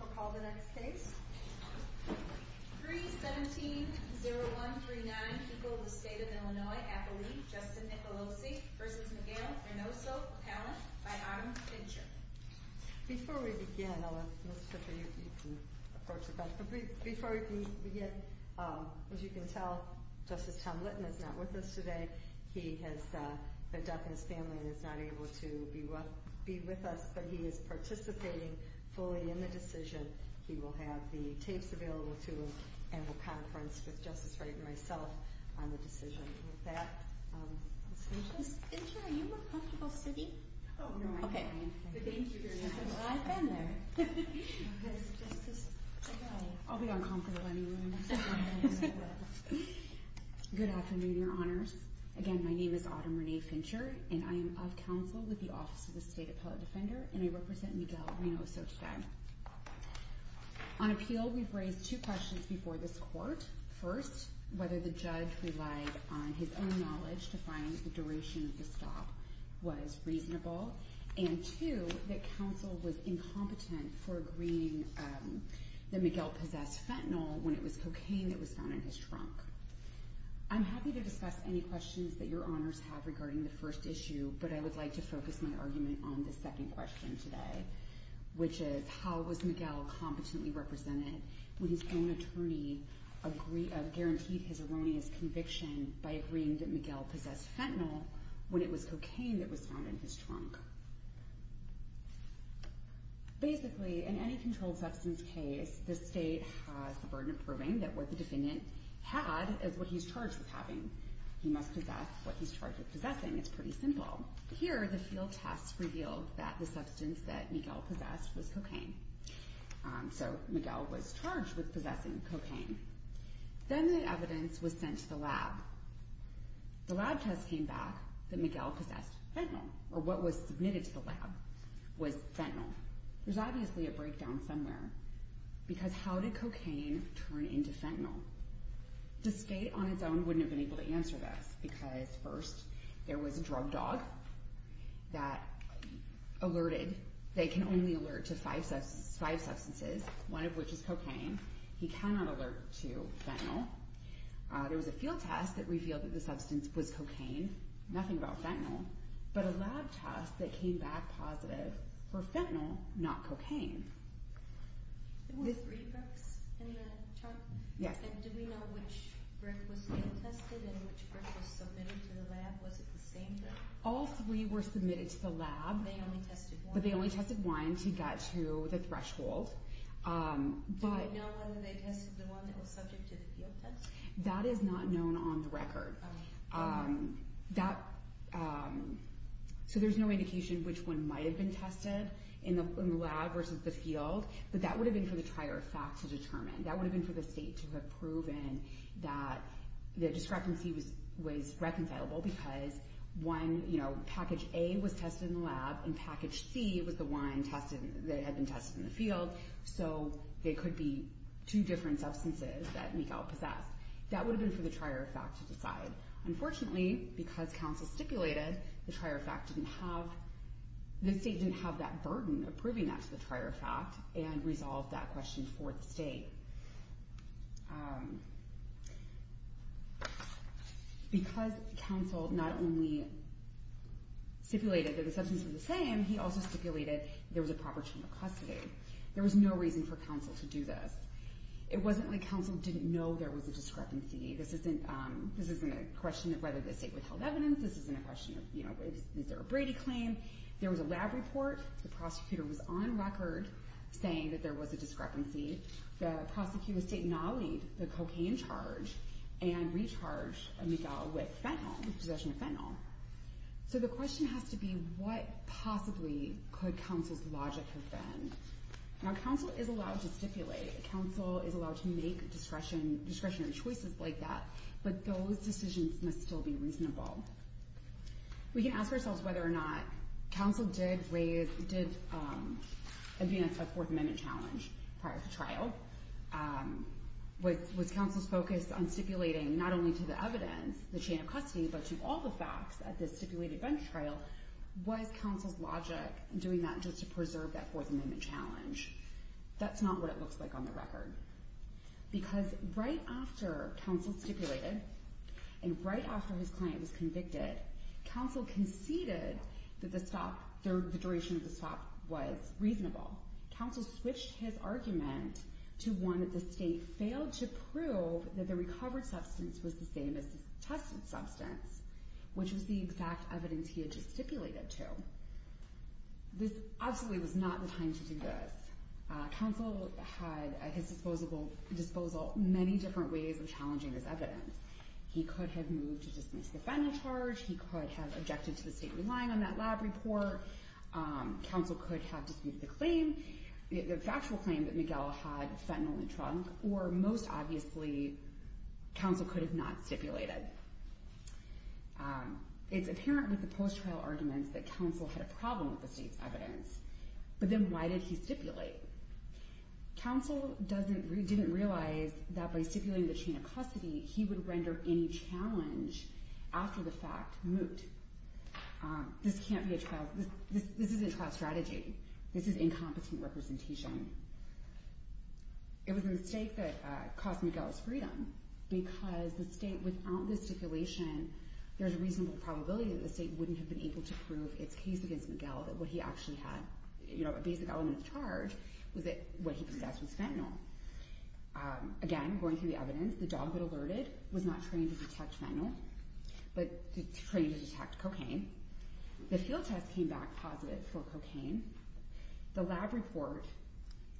I'll call the next case. 3-17-0139, People of the State of Illinois, Appalooie, Justin Nicolosi v. McGale, Reynoso, McAllen, by Autumn Fincher. Before we begin, I'll let Ms. Schiffer, you can approach the bench, but before we begin, as you can tell, Justice Tom Litton is not with us today. He has left his family and is not able to be with us, but he is participating fully in the decision. He will have the tapes available to him, and we'll conference with Justice Wright and myself on the decision. With that, Ms. Fincher? Ms. Fincher, are you in a comfortable sitting? Oh, no, I'm fine. Okay. Thank you very much. Well, I've been there. Ms. Justice? I'll be uncomfortable anyway. Good afternoon, Your Honors. Again, my name is Autumn Renee Fincher, and I am of counsel with the Office of the State Appellate Defender, and I represent McGale, Reynoso, today. On appeal, we've raised two questions before this court. First, whether the judge relied on his own knowledge to find the duration of the stop was reasonable, and two, that counsel was incompetent for agreeing that McGale possessed fentanyl when it was cocaine that was found in his trunk. I'm happy to discuss any questions that Your Honors have regarding the first issue, but I would like to focus my argument on the second question today, which is how was McGale competently represented when his own attorney guaranteed his erroneous conviction by agreeing that McGale possessed fentanyl when it was cocaine that was found in his trunk? Basically, in any controlled substance case, the state has the burden of proving that what the defendant had is what he's charged with having. He must possess what he's charged with possessing. It's pretty simple. Here, the field test revealed that the substance that McGale possessed was cocaine, so McGale was charged with possessing cocaine. Then the evidence was sent to the lab. The lab test came back that McGale possessed fentanyl, or what was submitted to the lab was fentanyl. There's obviously a breakdown somewhere, because how did cocaine turn into fentanyl? The state on its own wouldn't have been able to answer this, because first, there was a drug dog that alerted. They can only alert to five substances, one of which is cocaine. He cannot alert to fentanyl. There was a field test that revealed that the substance was cocaine, nothing about fentanyl, but a lab test that came back positive for fentanyl, not cocaine. There were three drugs in the trunk? Yes. Did we know which drug was field tested and which drug was submitted to the lab? Was it the same drug? All three were submitted to the lab. They only tested one? But they only tested one to get to the threshold. Do we know whether they tested the one that was subject to the field test? That is not known on the record. There's no indication which one might have been tested in the lab versus the field, but that would have been for the trier of fact to determine. That would have been for the state to have proven that the discrepancy was reconcilable, because package A was tested in the lab and package C was the one that had been tested in the field, so they could be two different substances that Mikal possessed. That would have been for the trier of fact to decide. Unfortunately, because counsel stipulated, the state didn't have that burden of proving that to the trier of fact and resolved that question for the state. Because counsel not only stipulated that the substances were the same, he also stipulated there was a proper term of custody. There was no reason for counsel to do this. It wasn't like counsel didn't know there was a discrepancy. This isn't a question of whether the state withheld evidence. This isn't a question of, you know, is there a Brady claim? There was a lab report. The prosecutor was on record saying that there was a discrepancy. The prosecutor's state nollied the cocaine charge and recharged Mikal with fentanyl, possession of fentanyl. So the question has to be, what possibly could counsel's logic have been? Now, counsel is allowed to stipulate. Counsel is allowed to make discretionary choices like that, but those decisions must still be reasonable. We can ask ourselves whether or not counsel did advance a Fourth Amendment challenge prior to trial. Was counsel's focus on stipulating not only to the evidence, the chain of custody, but to all the facts at this stipulated bench trial? Was counsel's logic doing that just to preserve that Fourth Amendment challenge? That's not what it looks like on the record. Because right after counsel stipulated and right after his client was convicted, counsel conceded that the duration of the stop was reasonable. Counsel switched his argument to one that the state failed to prove that the recovered substance was the same as the tested substance, which was the exact evidence he had just stipulated to. This absolutely was not the time to do this. Counsel had at his disposal many different ways of challenging this evidence. He could have moved to dismiss the fentanyl charge. He could have objected to the state relying on that lab report. Counsel could have disputed the claim, the factual claim that Miguel had fentanyl in the trunk. Or most obviously, counsel could have not stipulated. It's apparent with the post-trial arguments that counsel had a problem with the state's evidence. But then why did he stipulate? Counsel didn't realize that by stipulating the chain of custody, he would render any challenge after the fact moot. This can't be a trial. This isn't trial strategy. This is incompetent representation. It was a mistake that cost Miguel his freedom because the state, without the stipulation, there's a reasonable probability that the state wouldn't have been able to prove its case against Miguel that what he actually had, a basic element of charge, was that what he possessed was fentanyl. Again, going through the evidence, the dog that alerted was not trained to detect fentanyl, but trained to detect cocaine. The field test came back positive for cocaine. The lab report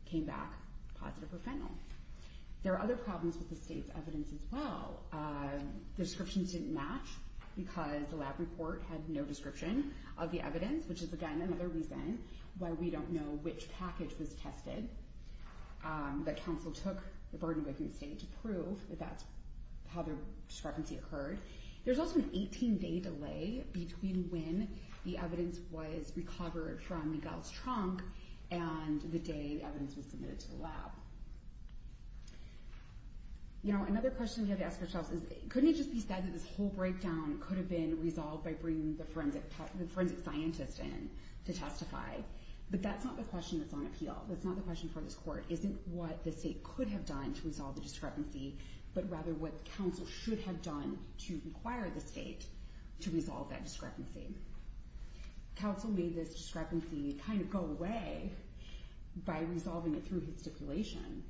came back positive for fentanyl. There are other problems with the state's evidence as well. The descriptions didn't match because the lab report had no description of the evidence, which is, again, another reason why we don't know which package was tested. But counsel took the burden of the state to prove that that's how the discrepancy occurred. There's also an 18-day delay between when the evidence was recovered from Miguel's trunk and the day the evidence was submitted to the lab. Another question we have to ask ourselves is, couldn't it just be said that this whole breakdown could have been resolved by bringing the forensic scientist in to testify? But that's not the question that's on appeal. That's not the question for this court. It isn't what the state could have done to resolve the discrepancy, but rather what counsel should have done to require the state to resolve that discrepancy. Counsel made this discrepancy kind of go away by resolving it through his stipulation.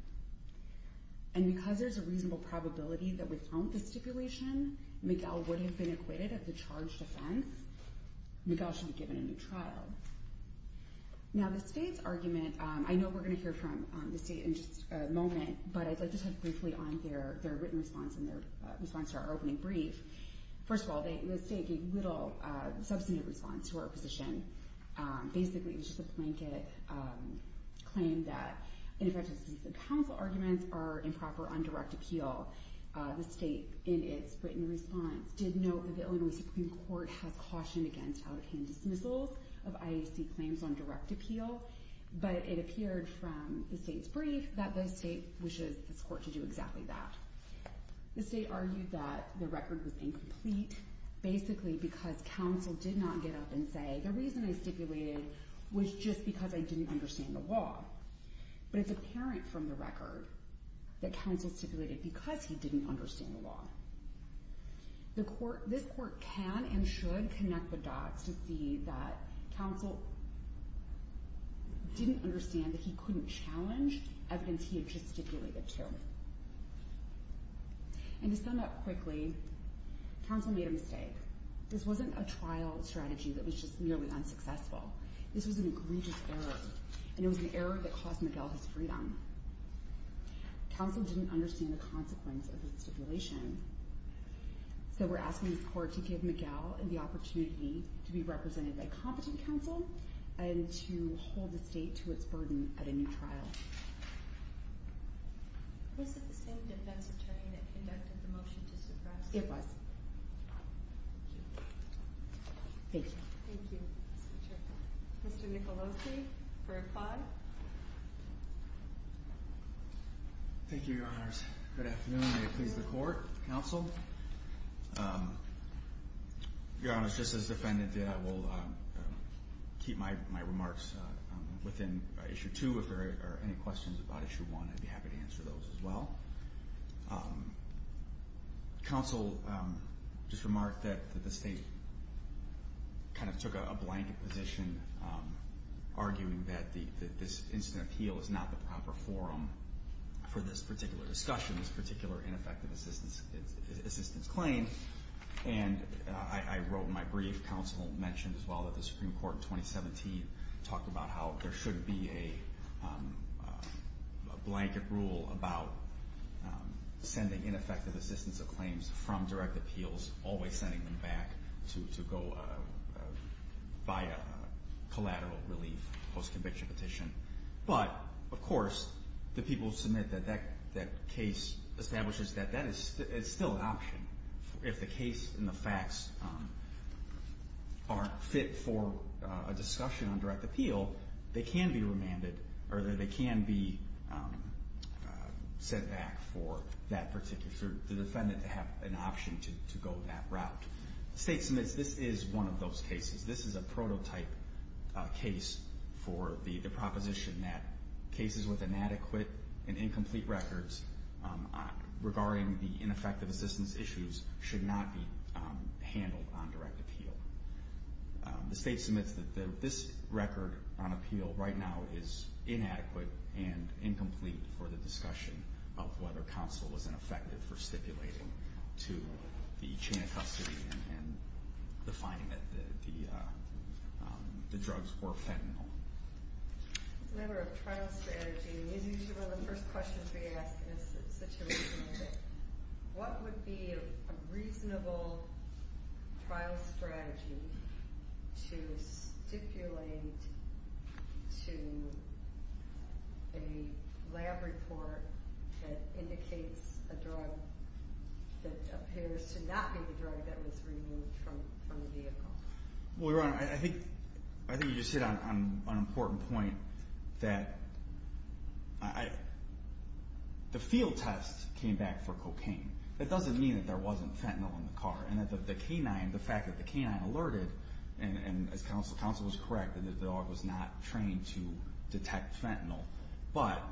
And because there's a reasonable probability that without the stipulation, Miguel would have been acquitted of the charged offense. Miguel should be given a new trial. Now, the state's argument, I know we're going to hear from the state in just a moment, but I'd like to touch briefly on their written response and their response to our opening brief. First of all, the state gave little substantive response to our position. Basically, it was just a blanket claim that, in effect, the counsel arguments are improper on direct appeal. The state, in its written response, did note that the Illinois Supreme Court has cautioned against out of hand dismissals of IAC claims on direct appeal, but it appeared from the state's brief that the state wishes this court to do exactly that. The state argued that the record was incomplete, basically because counsel did not get up and say, the reason I stipulated was just because I didn't understand the law. But it's apparent from the record that counsel stipulated because he didn't understand the law. This court can and should connect the dots to see that counsel didn't understand that he couldn't challenge evidence he had just stipulated to. And to sum up quickly, counsel made a mistake. This wasn't a trial strategy that was just nearly unsuccessful. This was an egregious error, and it was an error that cost Miguel his freedom. Counsel didn't understand the consequence of his stipulation, so we're asking this court to give Miguel the opportunity to be represented by competent counsel and to hold the state to its burden at a new trial. Was it the same defense attorney that conducted the motion to suppress? It was. Thank you. Thank you, Mr. Chairman. Mr. Nicolosi for apply. Thank you, Your Honors. Good afternoon. May it please the court, counsel. Your Honors, just as the defendant did, I will keep my remarks within Issue 2. If there are any questions about Issue 1, I'd be happy to answer those as well. Counsel just remarked that the state kind of took a blanket position, arguing that this instant appeal is not the proper forum for this particular discussion, this particular ineffective assistance claim. And I wrote in my brief, counsel mentioned as well that the Supreme Court in 2017 talked about how there should be a blanket rule about sending ineffective assistance of claims from direct appeals, always sending them back to go via collateral relief post-conviction petition. But, of course, the people submit that that case establishes that that is still an option. If the case and the facts aren't fit for a discussion on direct appeal, they can be remanded or they can be sent back for that particular, for the defendant to have an option to go that route. The state submits this is one of those cases. This is a prototype case for the proposition that cases with inadequate and incomplete records regarding the ineffective assistance issues should not be handled on direct appeal. The state submits that this record on appeal right now is inadequate and incomplete for the discussion of whether counsel was ineffective for stipulating to the chain of custody and defining that the drugs were fentanyl. As a matter of trial strategy, usually the first questions we ask in a situation like this, what would be a reasonable trial strategy to stipulate to a lab report that indicates a drug that appears to not be the drug that was removed from the vehicle? Well, Your Honor, I think you just hit on an important point that the field test came back for cocaine. That doesn't mean that there wasn't fentanyl in the car. And the fact that the canine alerted, and as counsel was correct, that the dog was not trained to detect fentanyl. But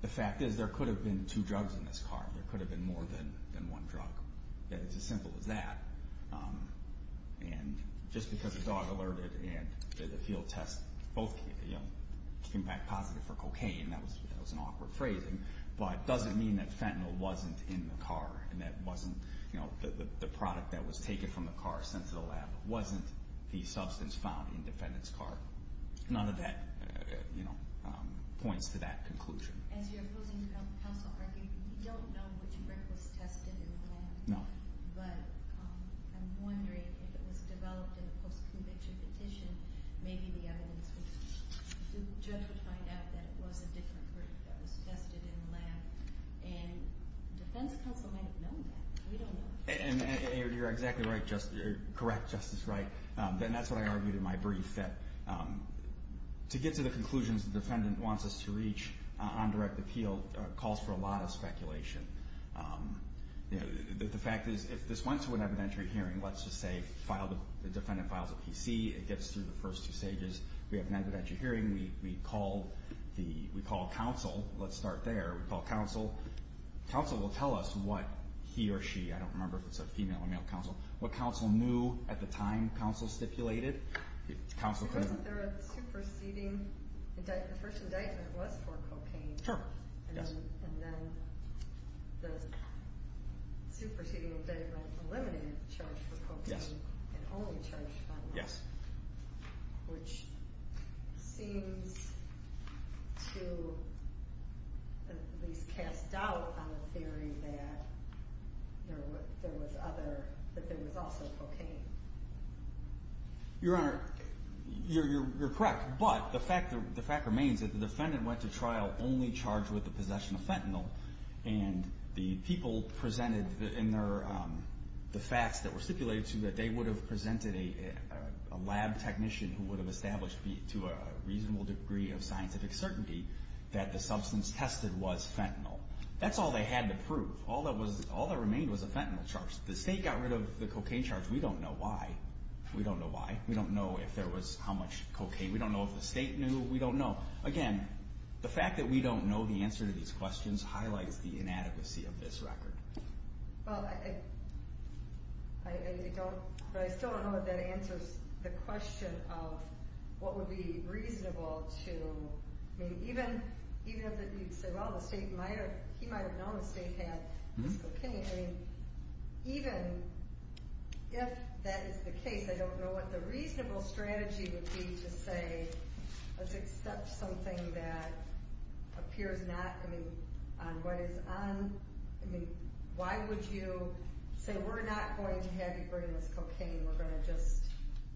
the fact is there could have been two drugs in this car. There could have been more than one drug. It's as simple as that. And just because the dog alerted and the field test came back positive for cocaine, that was an awkward phrasing, but it doesn't mean that fentanyl wasn't in the car and that the product that was taken from the car and sent to the lab wasn't the substance found in the defendant's car. None of that points to that conclusion. As you're opposing counsel arguing, we don't know which drug was tested in the lab. No. But I'm wondering if it was developed in a post-conviction petition, maybe the judge would find out that it was a different drug that was tested in the lab. And defense counsel might have known that. We don't know. And you're exactly right, Justice. You're correct, Justice Wright. And that's what I argued in my brief, that to get to the conclusions the defendant wants us to reach on direct appeal calls for a lot of speculation. The fact is, if this went to an evidentiary hearing, let's just say the defendant files a PC, it gets through the first two stages. We have an evidentiary hearing. We call counsel. Let's start there. We call counsel. Counsel will tell us what he or she, I don't remember if it's a female or male counsel, what counsel knew at the time counsel stipulated. Wasn't there a superseding indictment? The first indictment was for cocaine. Sure. And then the superseding indictment eliminated the charge for cocaine and only charged him. Yes. Which seems to at least cast doubt on the theory that there was other, that there was also cocaine. Your Honor, you're correct. But the fact remains that the defendant went to trial only charged with the possession of fentanyl. And the people presented in their, the facts that were stipulated to them, that they would have presented a lab technician who would have established, to a reasonable degree of scientific certainty, that the substance tested was fentanyl. That's all they had to prove. All that was, all that remained was a fentanyl charge. The state got rid of the cocaine charge. We don't know why. We don't know why. We don't know if there was how much cocaine. We don't know if the state knew. We don't know. Again, the fact that we don't know the answer to these questions highlights the inadequacy of this record. Well, I don't, but I still don't know if that answers the question of what would be reasonable to, I mean, even if you say, well, the state might have, he might have known the state had cocaine. I mean, even if that is the case, I don't know what the reasonable strategy would be to say, let's accept something that appears not, I mean, on what is on, I mean, why would you say we're not going to have you bring us cocaine? We're going to just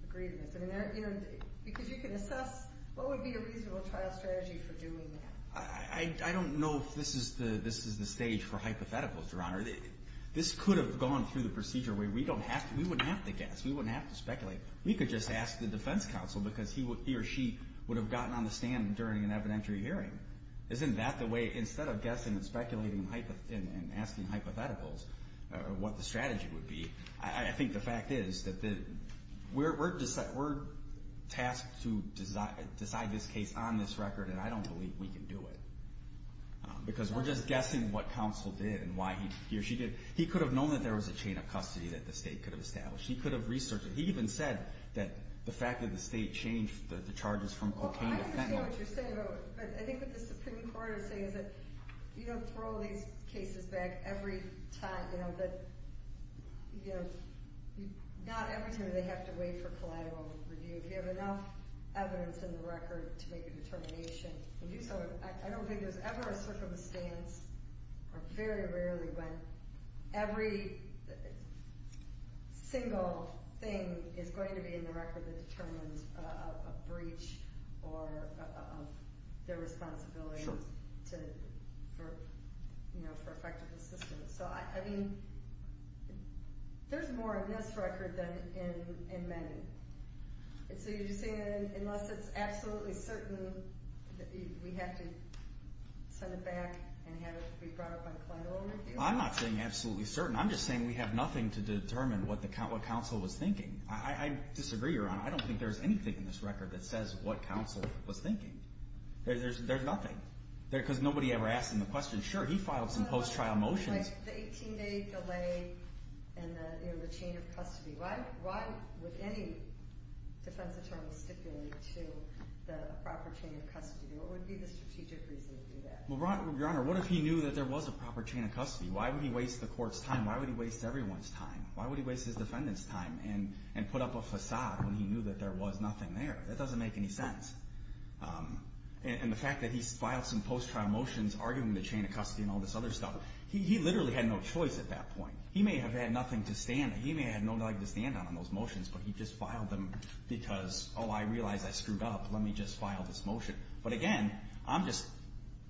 agree to this. I mean, because you can assess, what would be a reasonable trial strategy for doing that? I don't know if this is the stage for hypotheticals, Your Honor. This could have gone through the procedure where we don't have to, we wouldn't have to guess. We wouldn't have to speculate. We could just ask the defense counsel because he or she would have gotten on the stand during an evidentiary hearing. Isn't that the way, instead of guessing and speculating and asking hypotheticals what the strategy would be, I think the fact is that we're tasked to decide this case on this record, and I don't believe we can do it. Because we're just guessing what counsel did and why he or she did it. He could have known that there was a chain of custody that the state could have established. He could have researched it. He even said that the fact that the state changed the charges from cocaine to fentanyl. I understand what you're saying, but I think what the Supreme Court is saying is that you don't throw these cases back every time. You know, not every time do they have to wait for collateral review. If you have enough evidence in the record to make a determination to do so, I don't think there's ever a circumstance or very rarely when every single thing is going to be in the record that determines a breach or their responsibility for effective assistance. So, I mean, there's more in this record than in many. So you're saying unless it's absolutely certain that we have to send it back and have it be brought up on collateral review? I'm not saying absolutely certain. I'm just saying we have nothing to determine what counsel was thinking. I disagree, Your Honor. I don't think there's anything in this record that says what counsel was thinking. There's nothing. Because nobody ever asked him the question. Sure, he filed some post-trial motions. The 18-day delay and the chain of custody. Why would any defense attorney stipulate to the proper chain of custody? What would be the strategic reason to do that? Well, Your Honor, what if he knew that there was a proper chain of custody? Why would he waste the court's time? Why would he waste everyone's time? Why would he waste his defendant's time and put up a facade when he knew that there was nothing there? That doesn't make any sense. And the fact that he's filed some post-trial motions arguing the chain of custody and all this other stuff, he literally had no choice at that point. He may have had nothing to stand on. He may have had nothing to stand on on those motions, but he just filed them because, oh, I realize I screwed up. Let me just file this motion. But, again, I'm just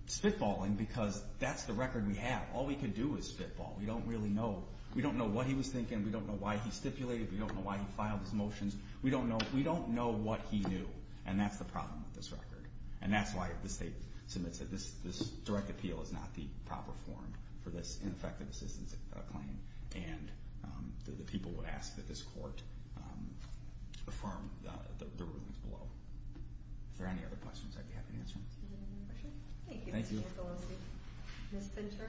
spitballing because that's the record we have. All we can do is spitball. We don't really know. We don't know what he was thinking. We don't know why he stipulated. We don't know why he filed his motions. We don't know what he knew, and that's the problem with this record. And that's why the state submits it. This direct appeal is not the proper form for this ineffective assistance claim, and the people would ask that this court affirm the rulings below. If there are any other questions, I'd be happy to answer them. Is there any more questions? Thank you. Thank you. Ms. Fincher?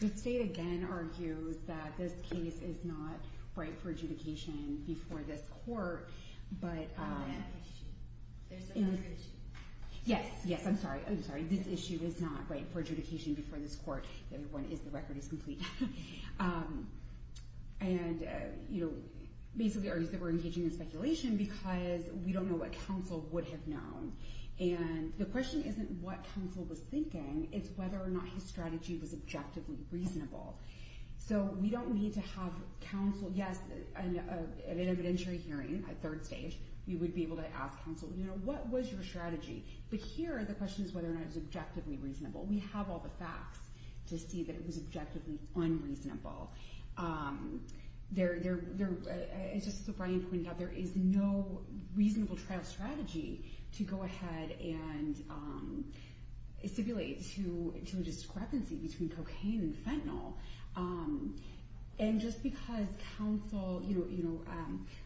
The state, again, argues that this case is not right for adjudication before this court. But there's another issue. Yes. Yes, I'm sorry. This issue is not right for adjudication before this court. The other one is the record is complete. And, you know, basically argues that we're engaging in speculation because we don't know what counsel would have known. And the question isn't what counsel was thinking. It's whether or not his strategy was objectively reasonable. So we don't need to have counsel. Yes, at an evidentiary hearing, a third stage, we would be able to ask counsel, you know, what was your strategy? But here the question is whether or not it was objectively reasonable. We have all the facts to see that it was objectively unreasonable. There is no reasonable trial strategy to go ahead and stipulate to a discrepancy between cocaine and fentanyl. And just because counsel, you know,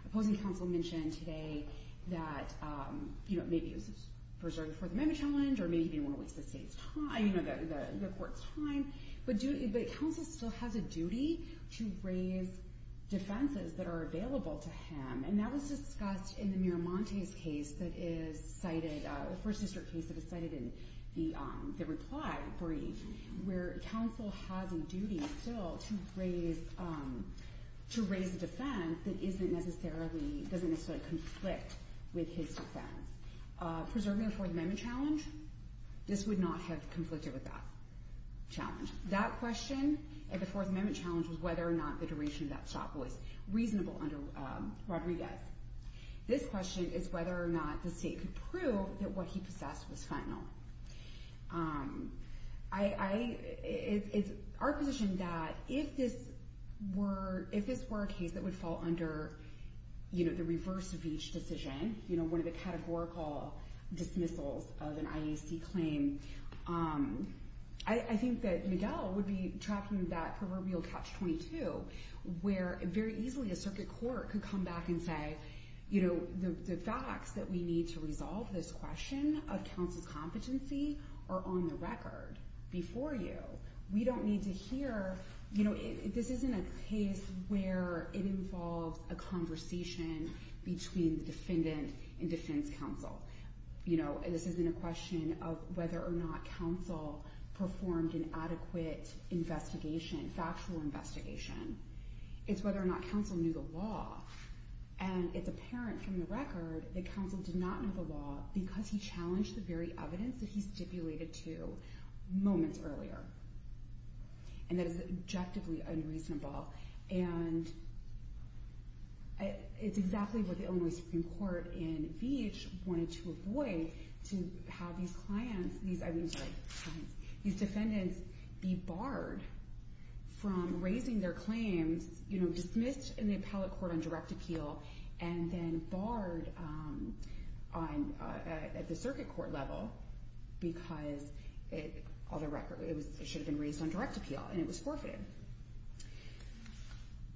opposing counsel mentioned today that, you know, maybe he was preserving the Fourth Amendment challenge or maybe he didn't want to waste the state's time, you know, the court's time. But counsel still has a duty to raise defenses that are available to him. And that was discussed in the Miramontes case that is cited, the First District case that is cited in the reply brief, where counsel has a duty still to raise a defense that doesn't necessarily conflict with his defense. Preserving the Fourth Amendment challenge, this would not have conflicted with that challenge. That question at the Fourth Amendment challenge was whether or not the duration of that stop was reasonable under Rodriguez. This question is whether or not the state could prove that what he possessed was fentanyl. It's our position that if this were a case that would fall under, you know, the reverse of each decision, you know, one of the categorical dismissals of an IAC claim, I think that Miguel would be tracking that proverbial catch-22, where very easily a circuit court could come back and say, you know, the facts that we need to resolve this question of counsel's competency are on the record before you. We don't need to hear, you know, this isn't a case where it involves a conversation between the defendant and defense counsel. You know, this isn't a question of whether or not counsel performed an adequate investigation, factual investigation. It's whether or not counsel knew the law. And it's apparent from the record that counsel did not know the law because he challenged the very evidence that he stipulated to moments earlier. And that is objectively unreasonable. And it's exactly what the Illinois Supreme Court in Veatch wanted to avoid, to have these clients, these, I mean, sorry, these defendants be barred from raising their claims, you know, dismissed in the appellate court on direct appeal, and then barred at the circuit court level because, on the record, it should have been raised on direct appeal, and it was forfeited.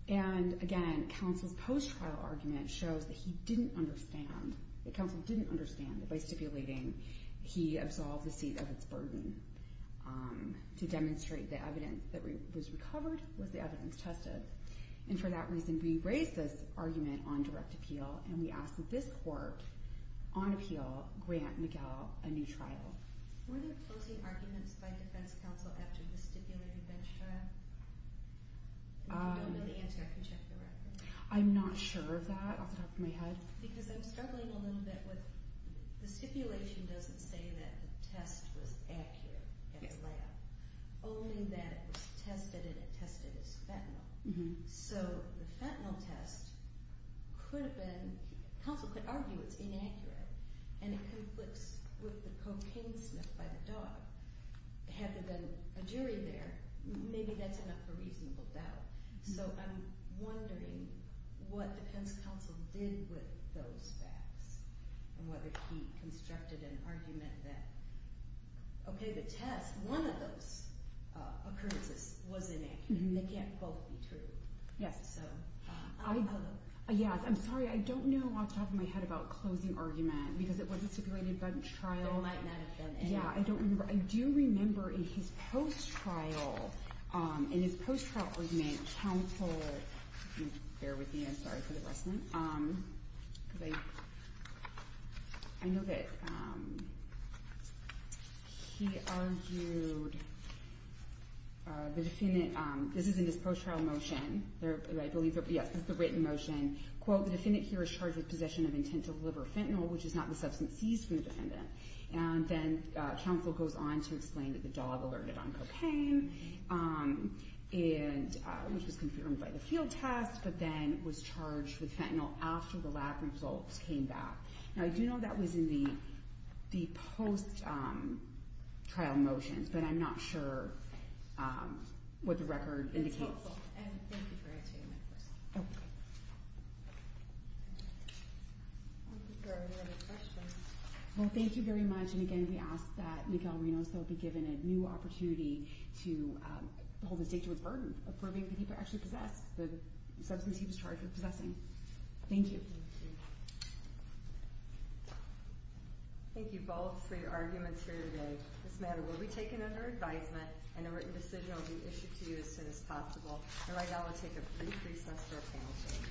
And, again, counsel's post-trial argument shows that he didn't understand, that counsel didn't understand that by stipulating, he absolved the seat of its burden. To demonstrate the evidence that was recovered was the evidence tested. And for that reason, we raised this argument on direct appeal, and we asked that this court on appeal grant Miguel a new trial. Were there closing arguments by defense counsel after the stipulated bench trial? If you don't know the answer, I can check the record. I'm not sure of that off the top of my head. Because I'm struggling a little bit with, the stipulation doesn't say that the test was accurate at the lab, only that it was tested, and it tested as fentanyl. So the fentanyl test could have been, counsel could argue it's inaccurate, and it conflicts with the cocaine sniff by the dog. Had there been a jury there, maybe that's enough for reasonable doubt. So I'm wondering what defense counsel did with those facts, and whether he constructed an argument that, okay, the test, one of those occurrences was inaccurate, and they can't both be true. Yes, I'm sorry, I don't know off the top of my head about closing argument, because it was a stipulated bench trial. There might not have been any. Yeah, I don't remember. I do remember in his post-trial, in his post-trial argument, counsel, bear with me, I'm sorry for the rest of it, because I know that he argued the defendant, this is in his post-trial motion, I believe, yes, this is the written motion, quote, the defendant here is charged with possession of intent to deliver fentanyl, which is not the substance seized from the defendant. And then counsel goes on to explain that the dog alerted on cocaine, which was confirmed by the field test, but then was charged with fentanyl after the lab results came back. Now, I do know that was in the post-trial motions, but I'm not sure what the record indicates. Thank you, counsel, and thank you for answering my question. I don't think there are any other questions. Well, thank you very much. And again, we ask that Miguel Reynoso be given a new opportunity to hold the state to its burden of proving that he could actually possess the substance he was charged with possessing. Thank you. Thank you both for your arguments here today. This matter will be taken under advisement, and a written decision will be issued to you as soon as possible. And right now we'll take a brief recess for a panel session.